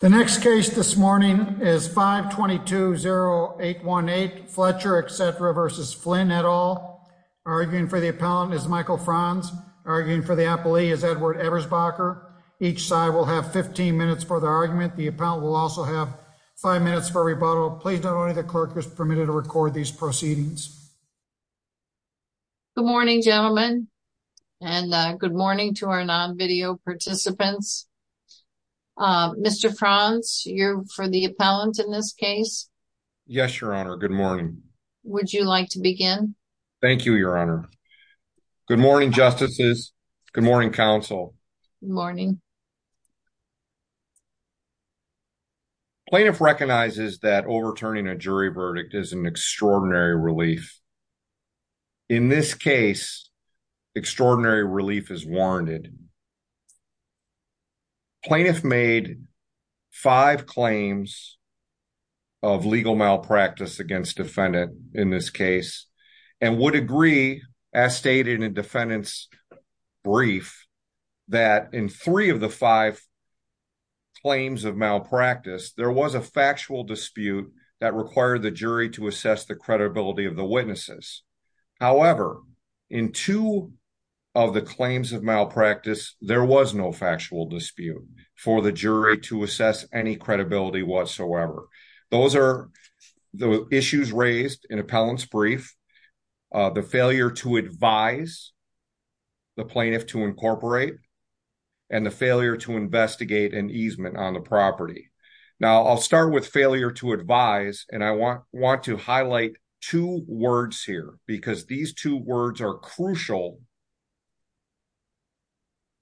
The next case this morning is 522-0818, Fletcher, etc. v. Flynn, et al. Arguing for the appellant is Michael Franz. Arguing for the appellee is Edward Ebersbacher. Each side will have 15 minutes for their argument. The appellant will also have 5 minutes for rebuttal. Please note only the clerk is permitted to record these proceedings. Good morning, gentlemen, and good morning to our non-video participants. Mr. Franz, you're for the appellant in this case? Yes, Your Honor. Good morning. Would you like to begin? Thank you, Your Honor. Good morning, Justices. Good morning, Counsel. Good morning. Plaintiff recognizes that overturning a jury verdict is an extraordinary relief. In this case, extraordinary relief is warranted. Plaintiff made five claims of legal malpractice against defendant in this case and would agree, as stated in defendant's brief, that in three of the five claims of malpractice, there was a factual dispute that required the jury to assess the credibility of the witnesses. However, in two of the claims of malpractice, there was no factual dispute for the jury to assess any credibility whatsoever. Those are the issues raised in appellant's brief, the failure to advise the plaintiff to incorporate, and the failure to investigate an easement on the property. Now, I'll start with failure to advise, and I want to highlight two words here, because these two words are crucial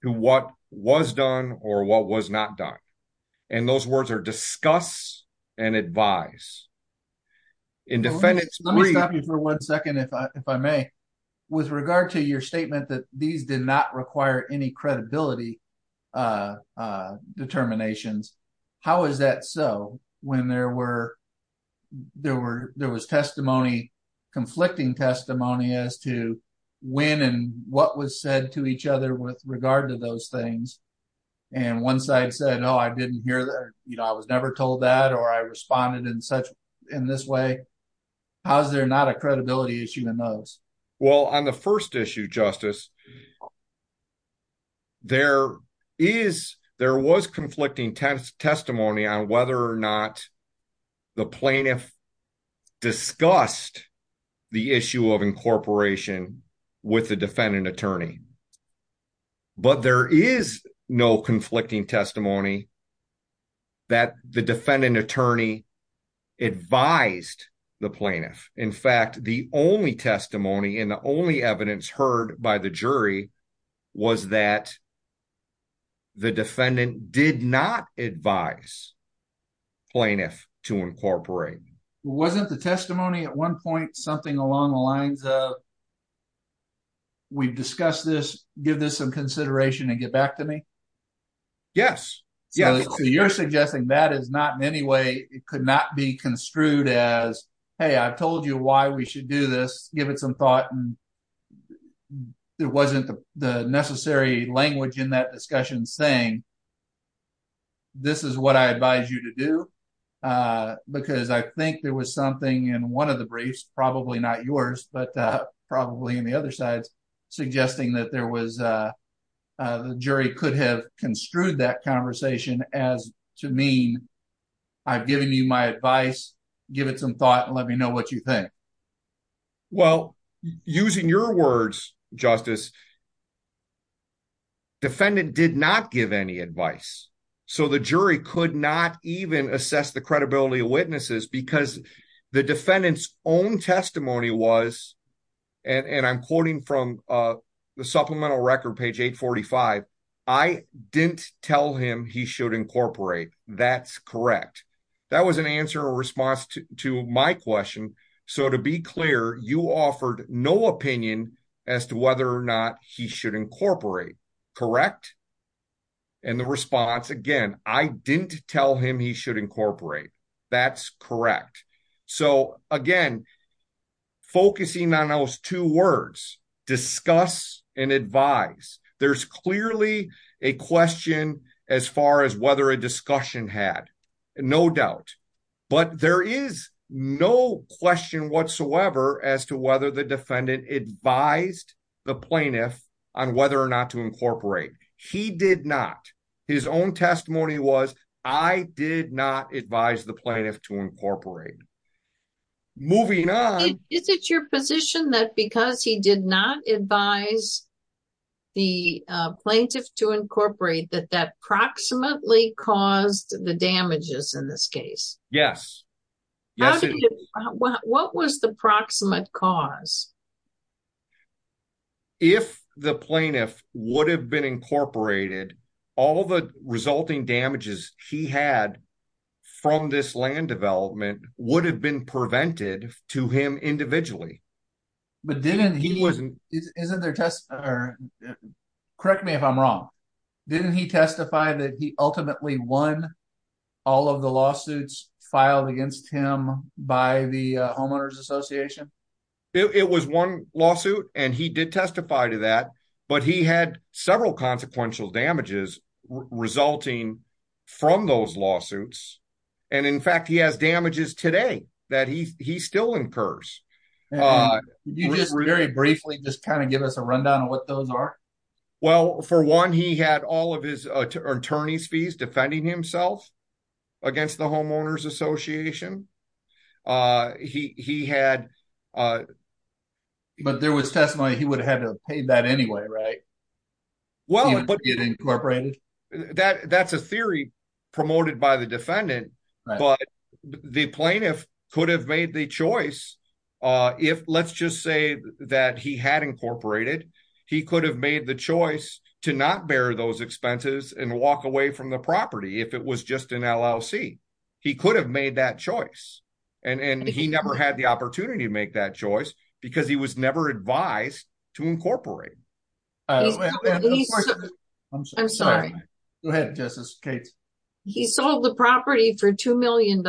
to what was done or what was not done. And those words are discuss and advise. Let me stop you for one second, if I may. With regard to your statement that these did not require any credibility determinations, how is that so when there was conflicting testimony as to when and what was said to each other with regard to those things? And one side said, no, I didn't hear that, you know, I was never told that, or I responded in this way. How is there not a credibility issue in those? Well, on the first issue, Justice, there was conflicting testimony on whether or not the plaintiff discussed the issue of incorporation with the defendant attorney. But there is no conflicting testimony that the defendant attorney advised the plaintiff. In fact, the only testimony and the only evidence heard by the jury was that the defendant did not advise plaintiff to incorporate. Wasn't the testimony at one point something along the lines of, we've discussed this, give this some consideration and get back to me? Yes. So you're suggesting that is not in any way it could not be construed as, hey, I've told you why we should do this. Give it some thought. And it wasn't the necessary language in that discussion saying this is what I advise you to do, because I think there was something in one of the briefs, probably not yours, but probably in the other sides suggesting that there was the jury could have construed that conversation as to mean I've given you my advice. Give it some thought and let me know what you think. Well, using your words, Justice, defendant did not give any advice. So the jury could not even assess the credibility of witnesses because the defendant's own testimony was, and I'm quoting from the supplemental record, page 845. I didn't tell him he should incorporate. That's correct. That was an answer or response to my question. So to be clear, you offered no opinion as to whether or not he should incorporate. Correct? And the response, again, I didn't tell him he should incorporate. That's correct. So, again, focusing on those two words, discuss and advise, there's clearly a question as far as whether a discussion had. No doubt. But there is no question whatsoever as to whether the defendant advised the plaintiff on whether or not to incorporate. He did not. His own testimony was, I did not advise the plaintiff to incorporate. Moving on. Is it your position that because he did not advise the plaintiff to incorporate that that proximately caused the damages in this case? Yes. What was the proximate cause? If the plaintiff would have been incorporated, all the resulting damages he had from this land development would have been prevented to him individually. But didn't he? Correct me if I'm wrong. Didn't he testify that he ultimately won all of the lawsuits filed against him by the homeowners association? It was one lawsuit, and he did testify to that, but he had several consequential damages resulting from those lawsuits. And, in fact, he has damages today that he still incurs. Can you just very briefly just kind of give us a rundown of what those are? Well, for one, he had all of his attorney's fees defending himself against the homeowners association. He had. But there was testimony he would have had to have paid that anyway, right? Well, that's a theory promoted by the defendant, but the plaintiff could have made the choice. Let's just say that he had incorporated. He could have made the choice to not bear those expenses and walk away from the property if it was just an LLC. He could have made that choice, and he never had the opportunity to make that choice because he was never advised to incorporate. I'm sorry. Go ahead, Justice Cates. He sold the property for $2 million?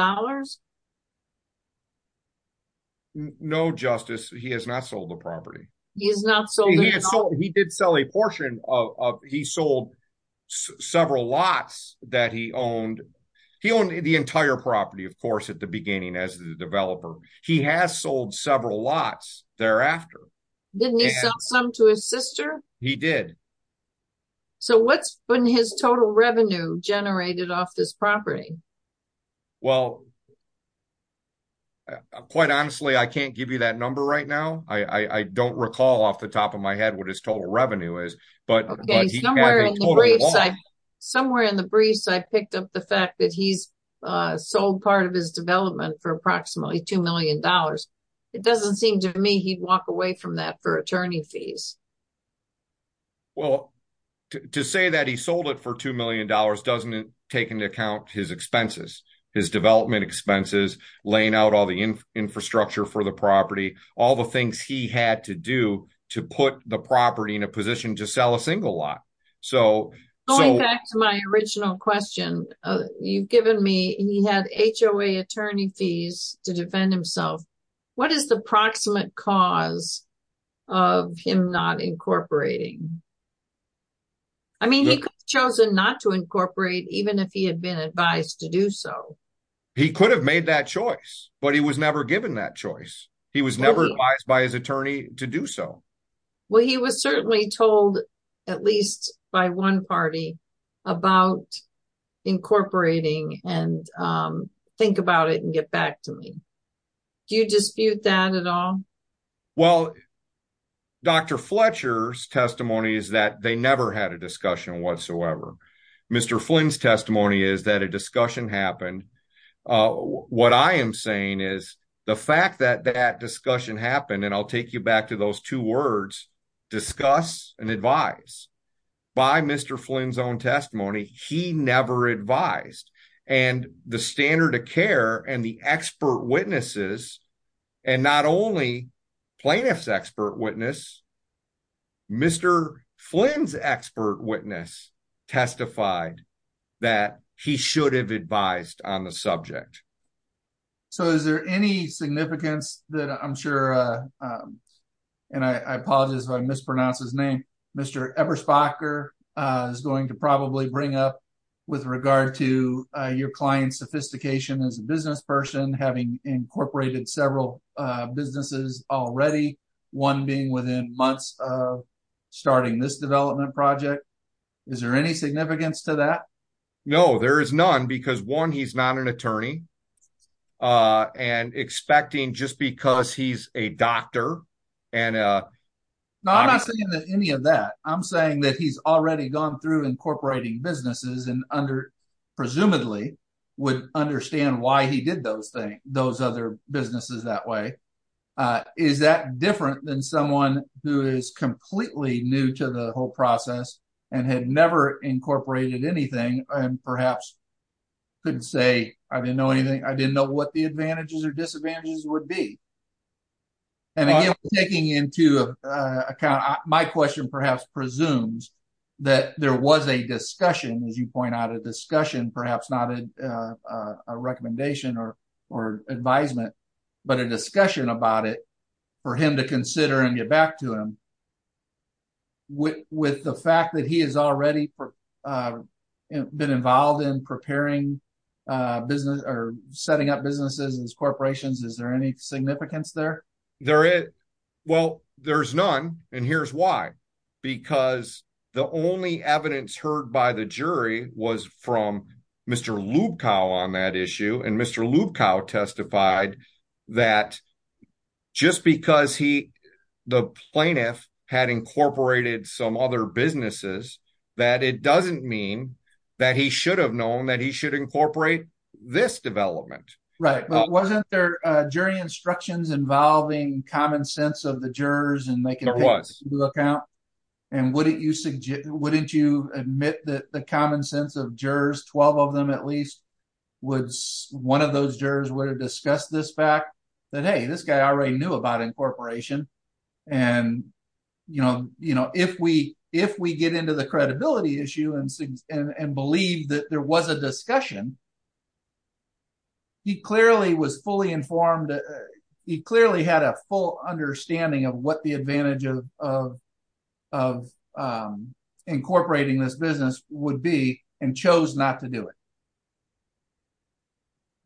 No, Justice, he has not sold the property. He has not sold the property? He did sell a portion. He sold several lots that he owned. He owned the entire property, of course, at the beginning as the developer. He has sold several lots thereafter. Didn't he sell some to his sister? He did. So what's been his total revenue generated off this property? Well, quite honestly, I can't give you that number right now. I don't recall off the top of my head what his total revenue is. Okay, somewhere in the briefs I picked up the fact that he's sold part of his development for approximately $2 million. It doesn't seem to me he'd walk away from that for attorney fees. Well, to say that he sold it for $2 million doesn't take into account his expenses, his development expenses, laying out all the infrastructure for the property, all the things he had to do to put the property in a position to sell a single lot. Going back to my original question, you've given me he had HOA attorney fees to defend himself. What is the proximate cause of him not incorporating? I mean, he could have chosen not to incorporate even if he had been advised to do so. He could have made that choice, but he was never given that choice. He was never advised by his attorney to do so. Well, he was certainly told, at least by one party, about incorporating and think about it and get back to me. Do you dispute that at all? Well, Dr. Fletcher's testimony is that they never had a discussion whatsoever. Mr. Flynn's testimony is that a discussion happened. What I am saying is the fact that that discussion happened, and I'll take you back to those two words, discuss and advise. By Mr. Flynn's own testimony, he never advised. The standard of care and the expert witnesses, and not only plaintiff's expert witness, Mr. Flynn's expert witness testified that he should have advised on the subject. So is there any significance that I'm sure, and I apologize if I mispronounce his name, Mr. Eberspacher is going to probably bring up with regard to your client's sophistication as a business person, having incorporated several businesses already, one being within months of starting this development project. Is there any significance to that? No, there is none, because one, he's not an attorney, and expecting just because he's a doctor. No, I'm not saying any of that. I'm saying that he's already gone through incorporating businesses and presumably would understand why he did those other businesses that way. Is that different than someone who is completely new to the whole process and had never incorporated anything and perhaps couldn't say, I didn't know anything, I didn't know what the advantages or disadvantages would be? And again, taking into account, my question perhaps presumes that there was a discussion, as you point out, a discussion, perhaps not a recommendation or advisement, but a discussion about it for him to consider and get back to him. With the fact that he has already been involved in preparing business or setting up businesses and corporations, is there any significance there? There is. Well, there's none. And here's why. Because the only evidence heard by the jury was from Mr. Lubkow on that issue. And Mr. Lubkow testified that just because the plaintiff had incorporated some other businesses, that it doesn't mean that he should have known that he should incorporate this development. Right. But wasn't there jury instructions involving common sense of the jurors? There was. And wouldn't you admit that the common sense of jurors, 12 of them at least, one of those jurors would have discussed this fact that, hey, this guy already knew about incorporation. And if we get into the credibility issue and believe that there was a discussion, he clearly was fully informed. He clearly had a full understanding of what the advantage of incorporating this business would be and chose not to do it.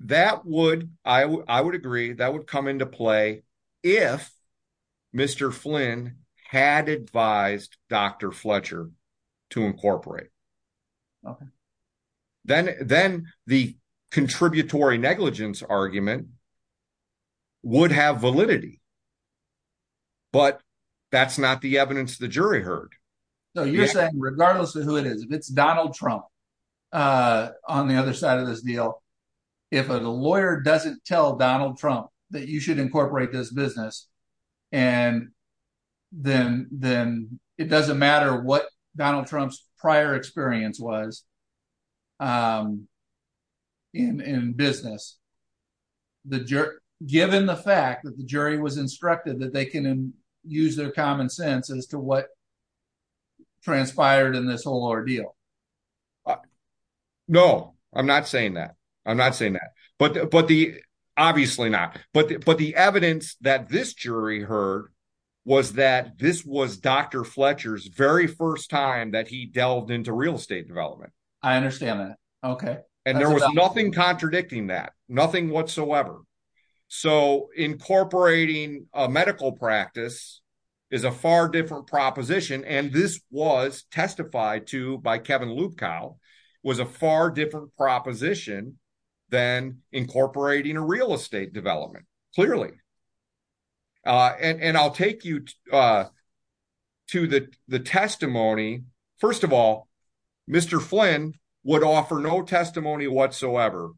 That would, I would agree, that would come into play if Mr. Flynn had advised Dr. Fletcher to incorporate. Okay. Then the contributory negligence argument would have validity. But that's not the evidence the jury heard. So you're saying regardless of who it is, if it's Donald Trump on the other side of this deal, if the lawyer doesn't tell Donald Trump that you should incorporate this business, and then it doesn't matter what Donald Trump's prior experience was in business, given the fact that the jury was instructed that they can use their common sense as to what transpired in this whole ordeal. No, I'm not saying that. I'm not saying that. But the, obviously not. But the evidence that this jury heard was that this was Dr. Fletcher's very first time that he delved into real estate development. I understand that. Okay. And there was nothing contradicting that. Nothing whatsoever. So incorporating a medical practice is a far different proposition. And this was testified to by Kevin Lukow was a far different proposition than incorporating a real estate development. Clearly. And I'll take you to the testimony. First of all, Mr. Flynn would offer no testimony whatsoever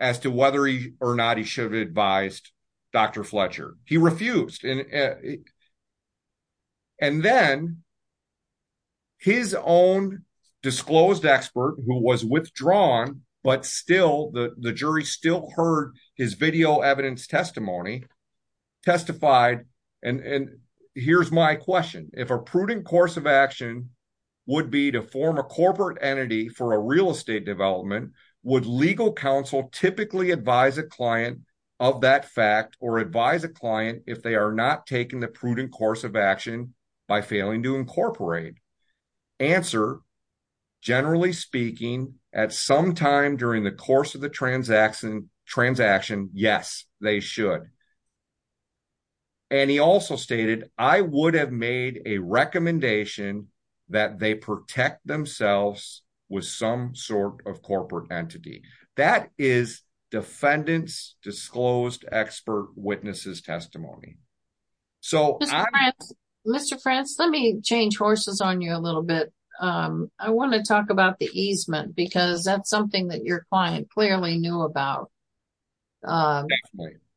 as to whether or not he should have advised Dr. Fletcher. He refused. And then his own disclosed expert who was withdrawn, but still the jury still heard his video evidence testimony testified. And here's my question. If a prudent course of action would be to form a corporate entity for a real estate development, would legal counsel typically advise a client of that fact or advise a client if they are not taking the prudent course of action by failing to incorporate? Answer. Generally speaking, at some time during the course of the transaction, yes, they should. And he also stated, I would have made a recommendation that they protect themselves with some sort of corporate entity that is defendants disclosed expert witnesses testimony. So, Mr. France, let me change horses on you a little bit. I want to talk about the easement because that's something that your client clearly knew about.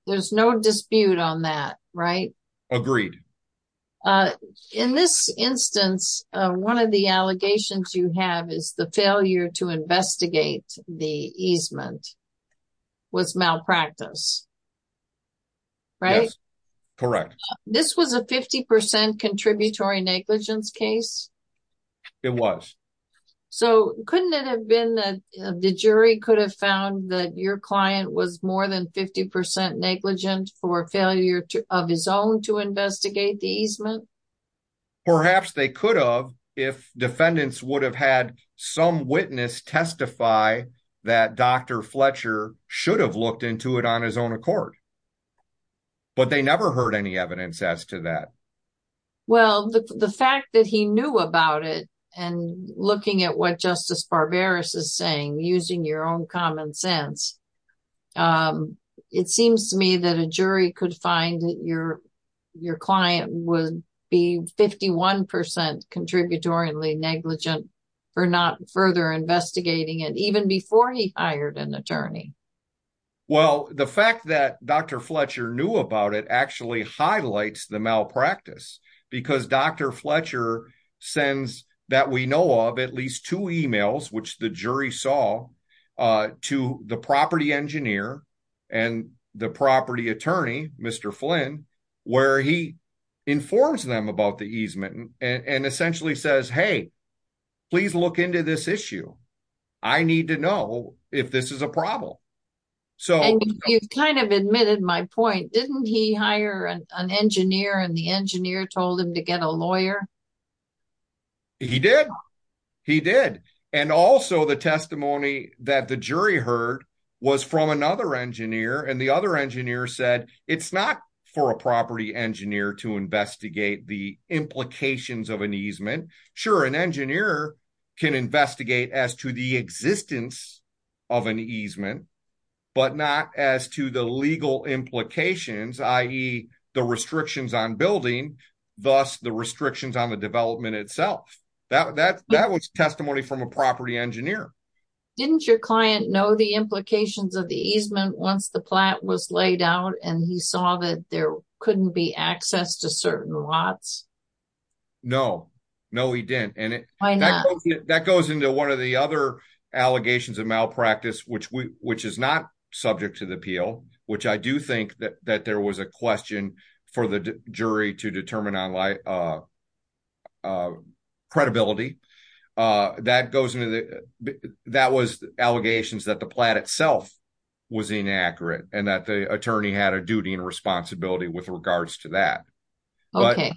There's no dispute on that. Right. Agreed. In this instance, one of the allegations you have is the failure to investigate the easement was malpractice. Right. Correct. This was a 50 percent contributory negligence case. It was. So couldn't it have been that the jury could have found that your client was more than 50 percent negligent for failure of his own to investigate the easement? Perhaps they could have if defendants would have had some witness testify that Dr. Fletcher should have looked into it on his own accord. But they never heard any evidence as to that. Well, the fact that he knew about it and looking at what Justice Barbaros is saying, using your own common sense. It seems to me that a jury could find your your client would be 51 percent contributory negligent for not further investigating it even before he hired an attorney. Well, the fact that Dr. Fletcher knew about it actually highlights the malpractice because Dr. Fletcher sends that we know of at least two emails, which the jury saw to the property engineer and the property attorney, Mr. Flynn, where he informs them about the easement and essentially says, hey, please look into this issue. I need to know if this is a problem. So you've kind of admitted my point. Didn't he hire an engineer and the engineer told him to get a lawyer? He did. He did. And also the testimony that the jury heard was from another engineer and the other engineer said it's not for a property engineer to investigate the implications of an easement. Sure, an engineer can investigate as to the existence of an easement, but not as to the legal implications, i.e. the restrictions on building, thus the restrictions on the development itself. That was testimony from a property engineer. Didn't your client know the implications of the easement once the plat was laid out and he saw that there couldn't be access to certain lots? No, no, he didn't. Why not? That goes into one of the other allegations of malpractice, which is not subject to the appeal, which I do think that there was a question for the jury to determine on credibility. That was allegations that the plat itself was inaccurate and that the attorney had a duty and responsibility with regards to that. Okay,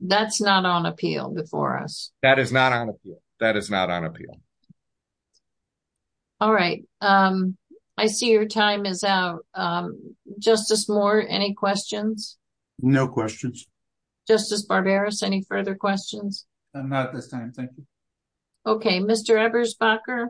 that's not on appeal before us. That is not on appeal. All right, I see your time is out. Justice Moore, any questions? No questions. Justice Barberis, any further questions? Not at this time, thank you. Okay, Mr. Eberspacher?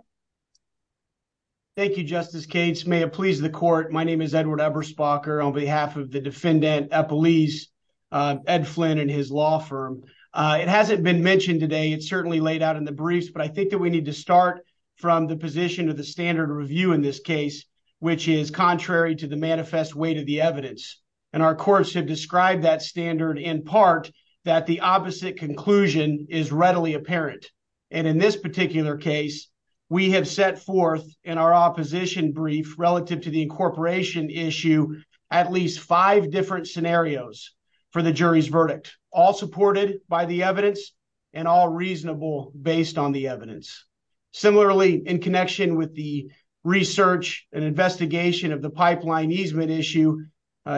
Thank you, Justice Cates. May it please the court. My name is Edward Eberspacher on behalf of the defendant, Ed Flynn and his law firm. It hasn't been mentioned today. It's certainly laid out in the briefs, but I think that we need to start from the position of the standard review in this case, which is contrary to the manifest weight of the evidence. And our courts have described that standard in part that the opposite conclusion is readily apparent. And in this particular case, we have set forth in our opposition brief relative to the incorporation issue, at least five different scenarios for the jury's verdict, all supported by the evidence and all reasonable based on the evidence. Similarly, in connection with the research and investigation of the pipeline easement issue,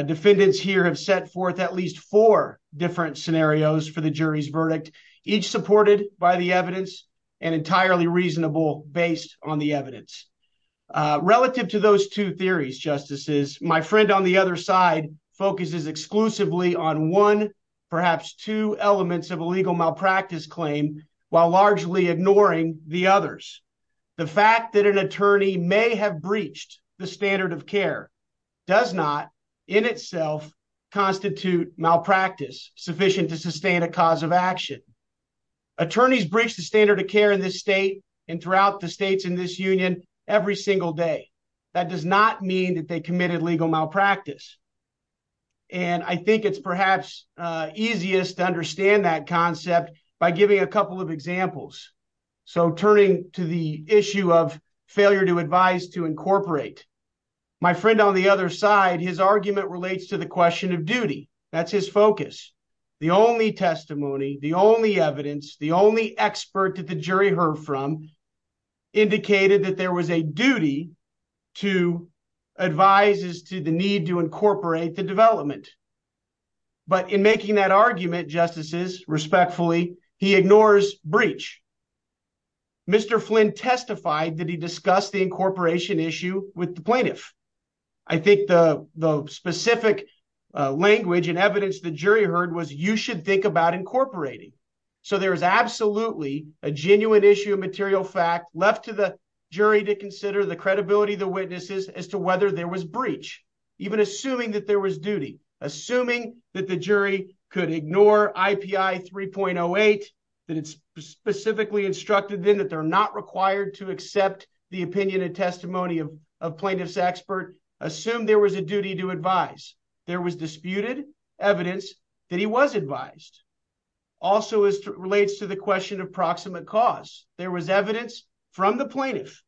defendants here have set forth at least four different scenarios for the jury's verdict, each supported by the evidence and entirely reasonable based on the evidence. Relative to those two theories, Justices, my friend on the other side focuses exclusively on one, perhaps two elements of a legal malpractice claim while largely ignoring the others. The fact that an attorney may have breached the standard of care does not in itself constitute malpractice sufficient to sustain a cause of action. Attorneys breached the standard of care in this state and throughout the states in this union every single day. That does not mean that they committed legal malpractice. And I think it's perhaps easiest to understand that concept by giving a couple of examples. So turning to the issue of failure to advise to incorporate, my friend on the other side, his argument relates to the question of duty. That's his focus. The only testimony, the only evidence, the only expert that the jury heard from indicated that there was a duty to advise as to the need to incorporate the development. But in making that argument, Justices, respectfully, he ignores breach. Mr. Flynn testified that he discussed the incorporation issue with the plaintiff. I think the specific language and evidence the jury heard was you should think about incorporating. So there is absolutely a genuine issue of material fact left to the jury to consider the credibility of the witnesses as to whether there was breach. Even assuming that there was duty, assuming that the jury could ignore IPI 3.08, that it's specifically instructed then that they're not required to accept the opinion and testimony of plaintiff's expert. Assume there was a duty to advise. There was disputed evidence that he was advised. Also relates to the question of proximate cause. There was evidence from the plaintiff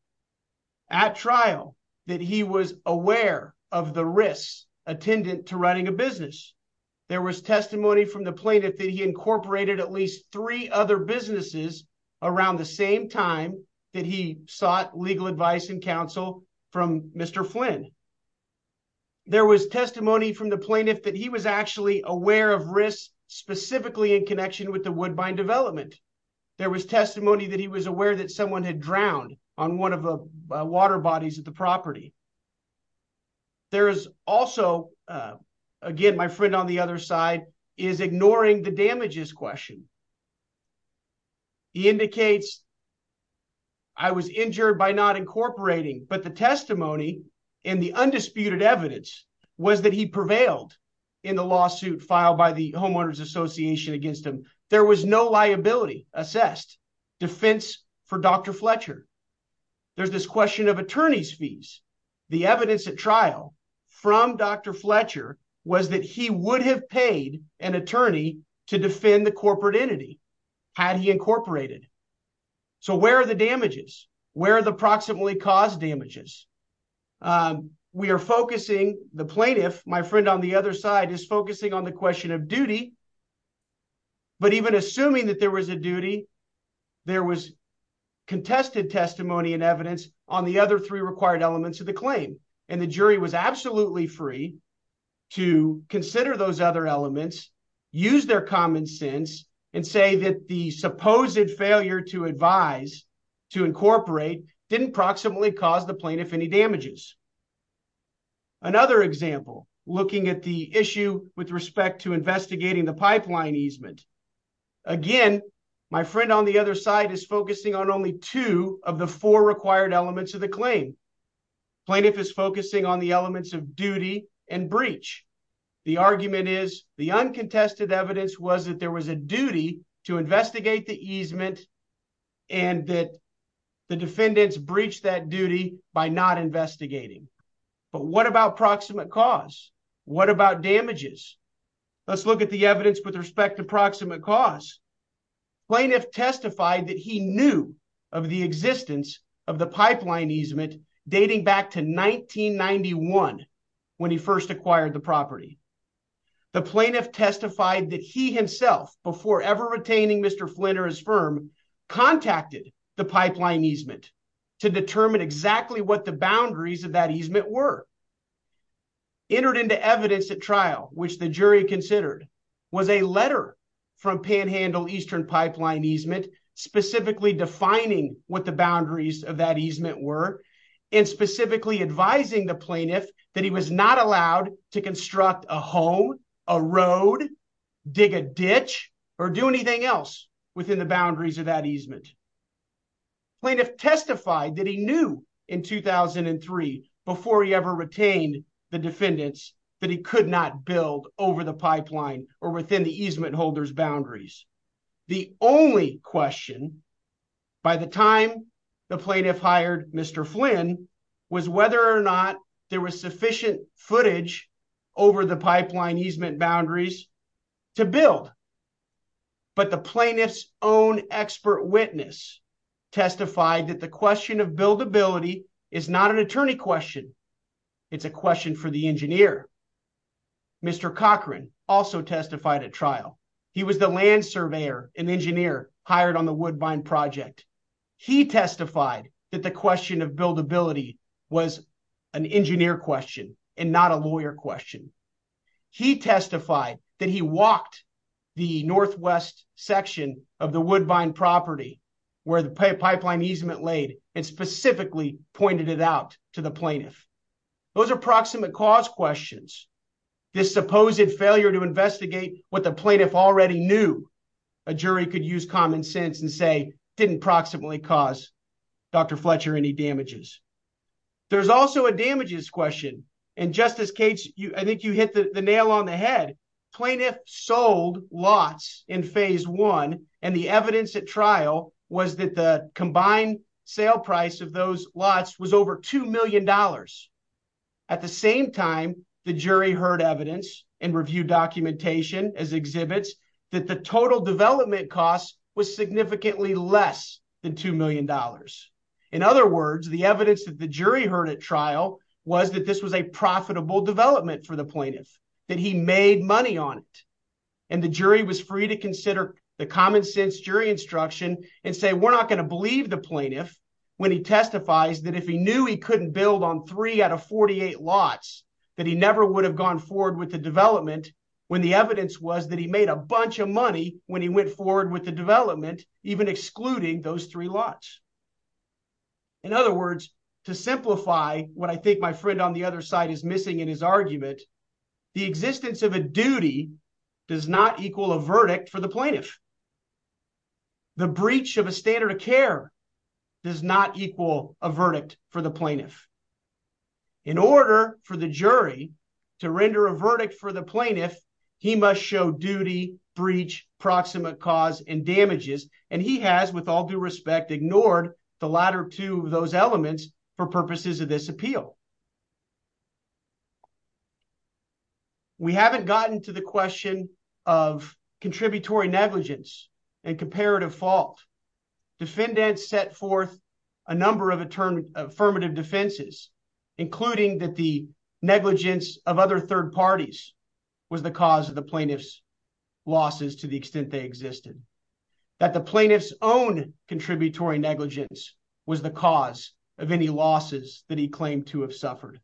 at trial that he was aware of the risks attendant to running a business. There was testimony from the plaintiff that he incorporated at least three other businesses around the same time that he sought legal advice and counsel from Mr. Flynn. There was testimony from the plaintiff that he was actually aware of risks specifically in connection with the woodbine development. There was testimony that he was aware that someone had drowned on one of the water bodies at the property. There is also, again, my friend on the other side is ignoring the damages question. He indicates I was injured by not incorporating, but the testimony in the undisputed evidence was that he prevailed in the lawsuit filed by the homeowners association against him. There was no liability assessed defense for Dr. Fletcher. There's this question of attorney's fees. The evidence at trial from Dr. Fletcher was that he would have paid an attorney to defend the corporate entity had he incorporated. So where are the damages? Where are the proximately caused damages? We are focusing, the plaintiff, my friend on the other side, is focusing on the question of duty. But even assuming that there was a duty, there was contested testimony and evidence on the other three required elements of the claim. And the jury was absolutely free to consider those other elements, use their common sense, and say that the supposed failure to advise to incorporate didn't proximately cause the plaintiff any damages. Another example, looking at the issue with respect to investigating the pipeline easement. Again, my friend on the other side is focusing on only two of the four required elements of the claim. Plaintiff is focusing on the elements of duty and breach. The argument is the uncontested evidence was that there was a duty to investigate the easement and that the defendants breached that duty by not investigating. But what about proximate cause? What about damages? Let's look at the evidence with respect to proximate cause. Plaintiff testified that he knew of the existence of the pipeline easement dating back to 1991 when he first acquired the property. The plaintiff testified that he himself, before ever retaining Mr. Flynn or his firm, contacted the pipeline easement to determine exactly what the boundaries of that easement were. Entered into evidence at trial, which the jury considered, was a letter from Panhandle Eastern Pipeline Easement specifically defining what the boundaries of that easement were, and specifically advising the plaintiff that he was not allowed to construct a home, a road, dig a ditch, or do anything else within the boundaries of that easement. Plaintiff testified that he knew in 2003, before he ever retained the defendants, that he could not build over the pipeline or within the easement holder's boundaries. The only question by the time the plaintiff hired Mr. Flynn was whether or not there was sufficient footage over the pipeline easement boundaries to build. But the plaintiff's own expert witness testified that the question of buildability is not an attorney question, it's a question for the engineer. Mr. Cochran also testified at trial. He was the land surveyor and engineer hired on the Woodbine project. He testified that the question of buildability was an engineer question and not a lawyer question. He testified that he walked the northwest section of the Woodbine property where the pipeline easement laid and specifically pointed it out to the plaintiff. Those are proximate cause questions. This supposed failure to investigate what the plaintiff already knew, a jury could use common sense and say, didn't proximately cause Dr. Fletcher any damages. There's also a damages question. And Justice Cates, I think you hit the nail on the head. Plaintiff sold lots in phase one and the evidence at trial was that the combined sale price of those lots was over $2 million. At the same time, the jury heard evidence and reviewed documentation as exhibits that the total development costs was significantly less than $2 million. In other words, the evidence that the jury heard at trial was that this was a profitable development for the plaintiff, that he made money on it. And the jury was free to consider the common sense jury instruction and say, we're not going to believe the plaintiff when he testifies that if he knew he couldn't build on three out of 48 lots, that he never would have gone forward with the development when the evidence was that he made a bunch of money when he went forward with the development, even excluding those three lots. In other words, to simplify what I think my friend on the other side is missing in his argument, the existence of a duty does not equal a verdict for the plaintiff. The breach of a standard of care does not equal a verdict for the plaintiff. In order for the jury to render a verdict for the plaintiff, he must show duty, breach, proximate cause, and damages. And he has, with all due respect, ignored the latter two of those elements for purposes of this appeal. We haven't gotten to the question of contributory negligence and comparative fault. Defendants set forth a number of affirmative defenses, including that the negligence of other third parties was the cause of the plaintiff's losses to the extent they existed. That the plaintiff's own contributory negligence was the cause of any losses that he claimed to have suffered.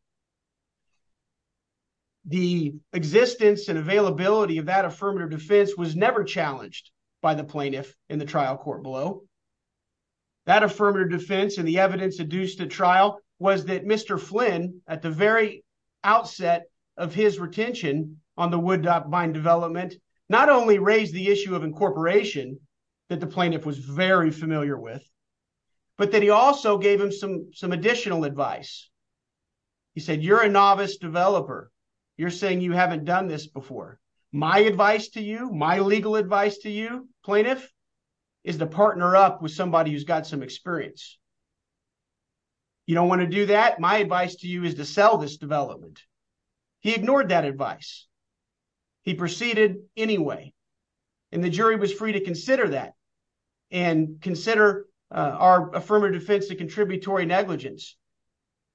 The existence and availability of that affirmative defense was never challenged by the plaintiff in the trial court below. That affirmative defense and the evidence adduced at trial was that Mr. Flynn, at the very outset of his retention on the Woodbine development, not only raised the issue of incorporation that the plaintiff was very familiar with, but that he also gave him some additional advice. He said, you're a novice developer. You're saying you haven't done this before. My advice to you, my legal advice to you, plaintiff, is to partner up with somebody who's got some experience. You don't want to do that? My advice to you is to sell this development. He ignored that advice. He proceeded anyway. And the jury was free to consider that and consider our affirmative defense of contributory negligence.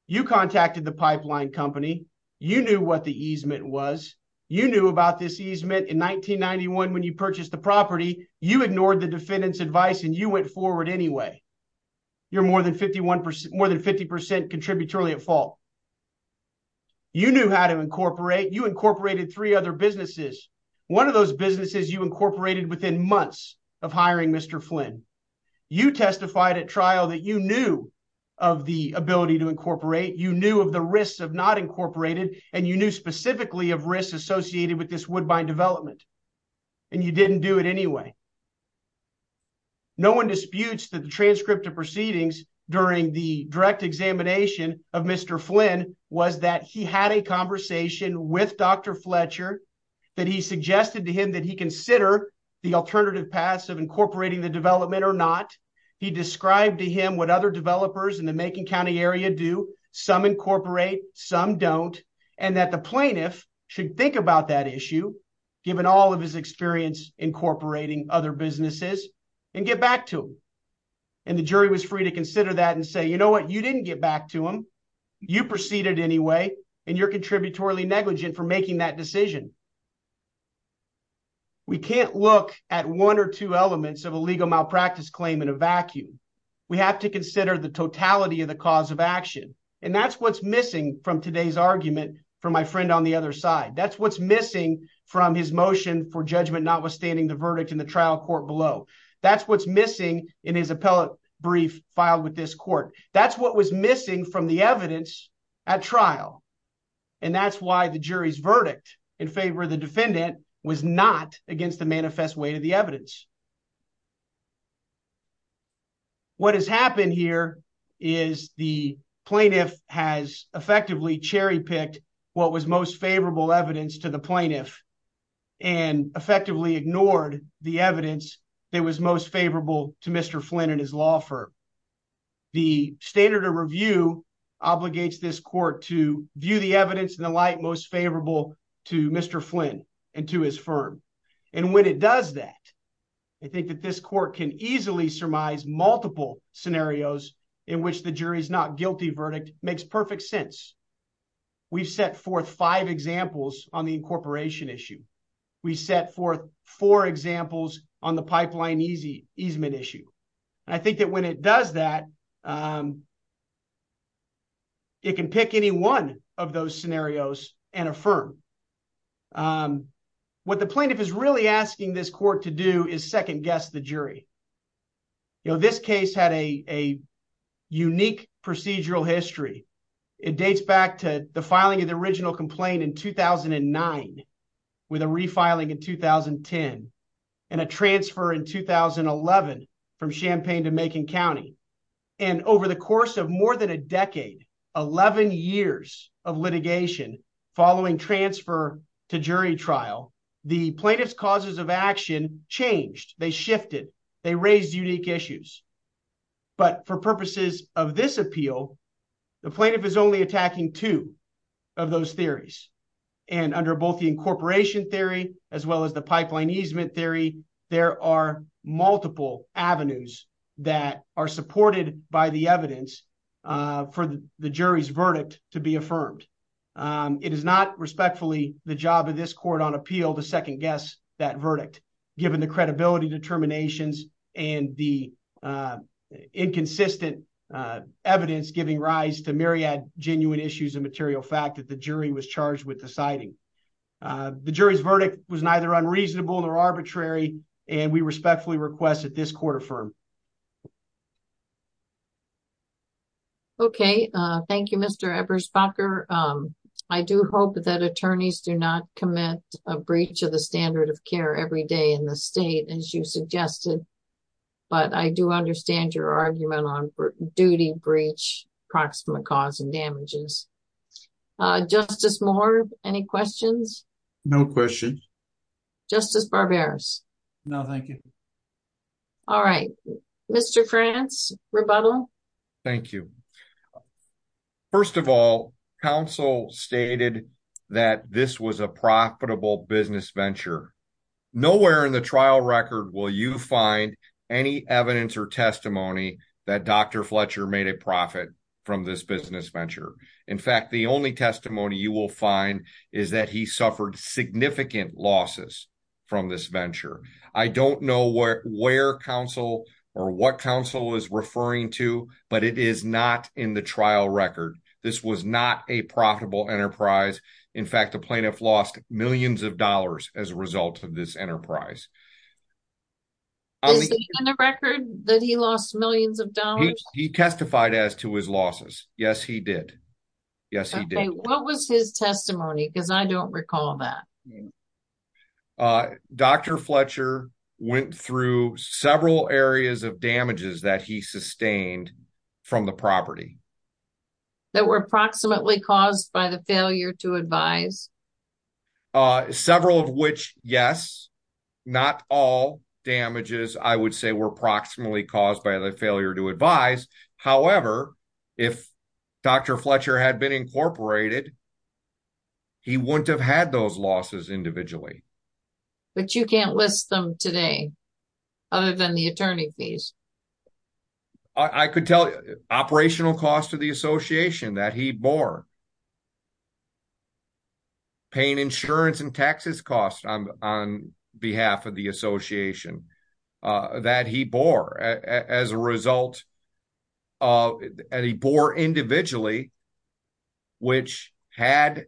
You contacted the pipeline company. You knew what the easement was. You knew about this easement in 1991 when you purchased the property. You ignored the defendant's advice and you went forward anyway. You're more than 50% contributory at fault. You knew how to incorporate. You incorporated three other businesses. One of those businesses you incorporated within months of hiring Mr. Flynn. You testified at trial that you knew of the ability to incorporate. You knew of the risks of not incorporated, and you knew specifically of risks associated with this woodbine development. And you didn't do it anyway. No one disputes that the transcript of proceedings during the direct examination of Mr. Flynn was that he had a conversation with Dr. Fletcher, that he suggested to him that he consider the alternative paths of incorporating the development or not. He described to him what other developers in the Macon County area do. Some incorporate, some don't, and that the plaintiff should think about that issue, given all of his experience incorporating other businesses, and get back to him. And the jury was free to consider that and say, you know what, you didn't get back to him. You proceeded anyway, and you're contributory negligent for making that decision. We can't look at one or two elements of a legal malpractice claim in a vacuum. We have to consider the totality of the cause of action. And that's what's missing from today's argument from my friend on the other side. That's what's missing from his motion for judgment notwithstanding the verdict in the trial court below. That's what's missing in his appellate brief filed with this court. That's what was missing from the evidence at trial. And that's why the jury's verdict in favor of the defendant was not against the manifest weight of the evidence. What has happened here is the plaintiff has effectively cherry-picked what was most favorable evidence to the plaintiff, and effectively ignored the evidence that was most favorable to Mr. Flynn and his law firm. The standard of review obligates this court to view the evidence in the light most favorable to Mr. Flynn and to his firm. And when it does that, I think that this court can easily surmise multiple scenarios in which the jury's not guilty verdict makes perfect sense. We've set forth five examples on the incorporation issue. We set forth four examples on the pipeline easement issue. And I think that when it does that, it can pick any one of those scenarios and affirm. What the plaintiff is really asking this court to do is second-guess the jury. You know, this case had a unique procedural history. It dates back to the filing of the original complaint in 2009, with a refiling in 2010, and a transfer in 2011 from Champaign to Macon County. And over the course of more than a decade, 11 years of litigation following transfer to jury trial, the plaintiff's causes of action changed. They shifted. They raised unique issues. But for purposes of this appeal, the plaintiff is only attacking two of those theories. And under both the incorporation theory as well as the pipeline easement theory, there are multiple avenues that are supported by the evidence for the jury's verdict to be affirmed. It is not, respectfully, the job of this court on appeal to second-guess that verdict, given the credibility determinations and the inconsistent evidence giving rise to myriad genuine issues of material fact that the jury was charged with deciding. The jury's verdict was neither unreasonable nor arbitrary, and we respectfully request that this court affirm. Okay. Thank you, Mr. Eberspacher. I do hope that attorneys do not commit a breach of the standard of care every day in the state, as you suggested. But I do understand your argument on duty, breach, proximate cause, and damages. Justice Moore, any questions? No questions. Justice Barberis? No, thank you. All right. Mr. France, rebuttal? Thank you. First of all, counsel stated that this was a profitable business venture. Nowhere in the trial record will you find any evidence or testimony that Dr. Fletcher made a profit from this business venture. In fact, the only testimony you will find is that he suffered significant losses from this venture. I don't know where counsel or what counsel is referring to, but it is not in the trial record. This was not a profitable enterprise. In fact, the plaintiff lost millions of dollars as a result of this enterprise. Is it in the record that he lost millions of dollars? He testified as to his losses. Yes, he did. Yes, he did. Okay. What was his testimony? Because I don't recall that. Dr. Fletcher went through several areas of damages that he sustained from the property. That were approximately caused by the failure to advise? Several of which, yes. Not all damages, I would say, were approximately caused by the failure to advise. However, if Dr. Fletcher had been incorporated, he wouldn't have had those losses individually. But you can't list them today? Other than the attorney fees? I could tell you. Operational costs of the association that he bore. Paying insurance and taxes costs on behalf of the association that he bore. As a result, he bore individually. Which, had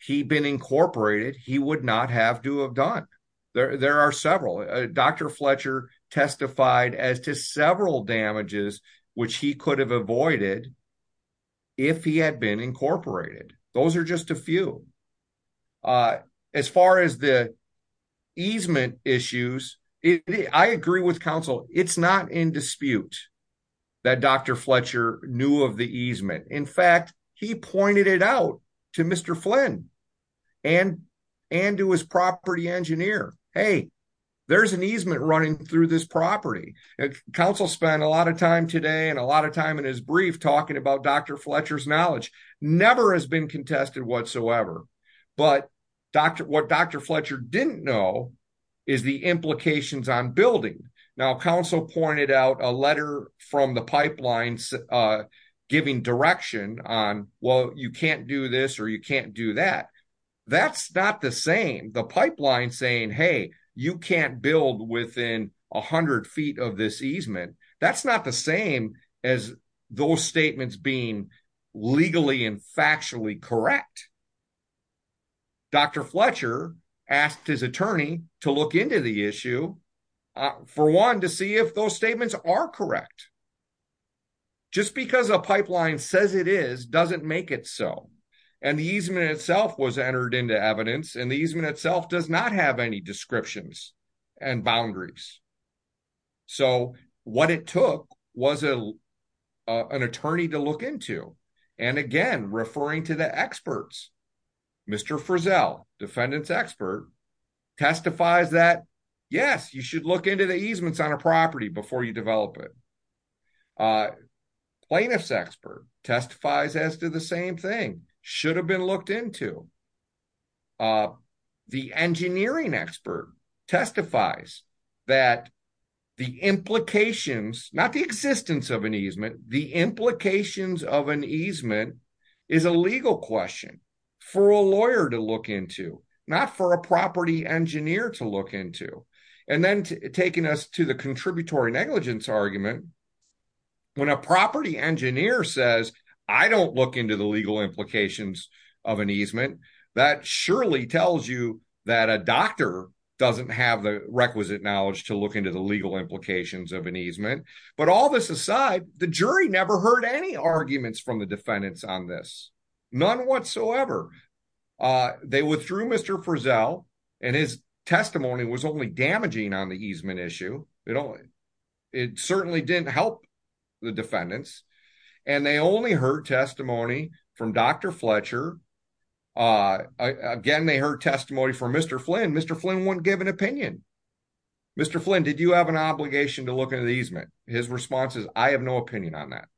he been incorporated, he would not have to have done. There are several. Dr. Fletcher testified as to several damages which he could have avoided if he had been incorporated. Those are just a few. As far as the easement issues, I agree with counsel. It's not in dispute that Dr. Fletcher knew of the easement. In fact, he pointed it out to Mr. Flynn and to his property engineer. Hey, there's an easement running through this property. Counsel spent a lot of time today and a lot of time in his brief talking about Dr. Fletcher's knowledge. Never has been contested whatsoever. But what Dr. Fletcher didn't know is the implications on building. Now, counsel pointed out a letter from the pipeline giving direction on, well, you can't do this or you can't do that. That's not the same. The pipeline saying, hey, you can't build within 100 feet of this easement. That's not the same as those statements being legally and factually correct. Dr. Fletcher asked his attorney to look into the issue for one to see if those statements are correct. Just because a pipeline says it is doesn't make it so. And the easement itself was entered into evidence and the easement itself does not have any descriptions and boundaries. So what it took was an attorney to look into. And again, referring to the experts, Mr. Frizzell, defendant's expert, testifies that, yes, you should look into the easements on a property before you develop it. Plaintiff's expert testifies as to the same thing. Should have been looked into. The engineering expert testifies that the implications, not the existence of an easement, the implications of an easement is a legal question for a lawyer to look into, not for a property engineer to look into. And then taking us to the contributory negligence argument. When a property engineer says, I don't look into the legal implications of an easement, that surely tells you that a doctor doesn't have the requisite knowledge to look into the legal implications of an easement. But all this aside, the jury never heard any arguments from the defendants on this. None whatsoever. They withdrew Mr. Frizzell and his testimony was only damaging on the easement issue. It certainly didn't help the defendants. And they only heard testimony from Dr. Fletcher. Again, they heard testimony from Mr. Flynn. Mr. Flynn wouldn't give an opinion. Mr. Flynn, did you have an obligation to look into the easement? His response is, I have no opinion on that.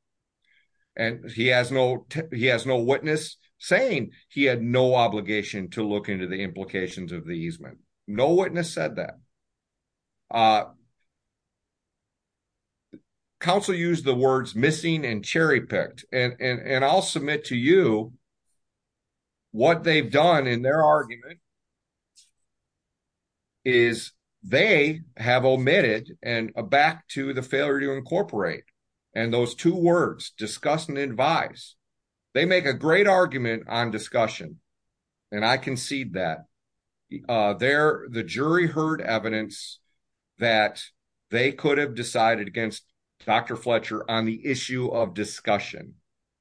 And he has no witness saying he had no obligation to look into the implications of the easement. No witness said that. Counsel used the words missing and cherry-picked. And I'll submit to you what they've done in their argument is they have omitted and back to the failure to incorporate. And those two words, discuss and advise, they make a great argument on discussion. And I concede that. The jury heard evidence that they could have decided against Dr. Fletcher on the issue of discussion.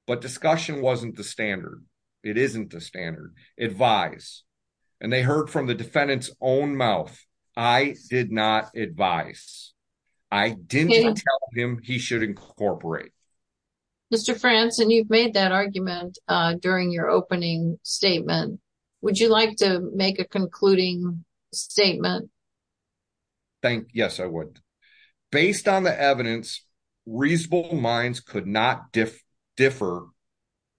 But discussion wasn't the standard. It isn't the standard. Advise. And they heard from the defendant's own mouth. I did not advise. I didn't tell him he should incorporate. Mr. Frantz, and you've made that argument during your opening statement. Would you like to make a concluding statement? Yes, I would. Based on the evidence, reasonable minds could not differ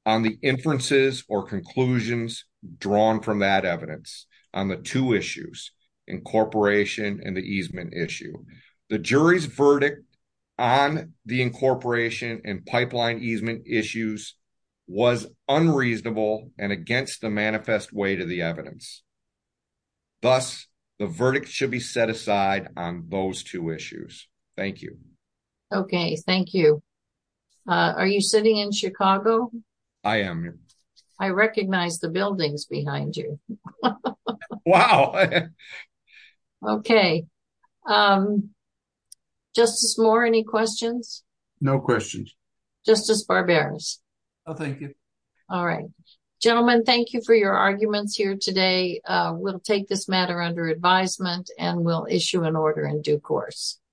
on the inferences or conclusions drawn from that evidence on the two issues, incorporation and the easement issue. The jury's verdict on the incorporation and pipeline easement issues was unreasonable and against the manifest way to the evidence. Thus, the verdict should be set aside on those two issues. Thank you. Okay. Thank you. Are you sitting in Chicago? I am. I recognize the buildings behind you. Wow. Okay. No questions. Justice Barberas. Thank you. All right. Gentlemen, thank you for your arguments here today. We'll take this matter under advisement and we'll issue an order in due course.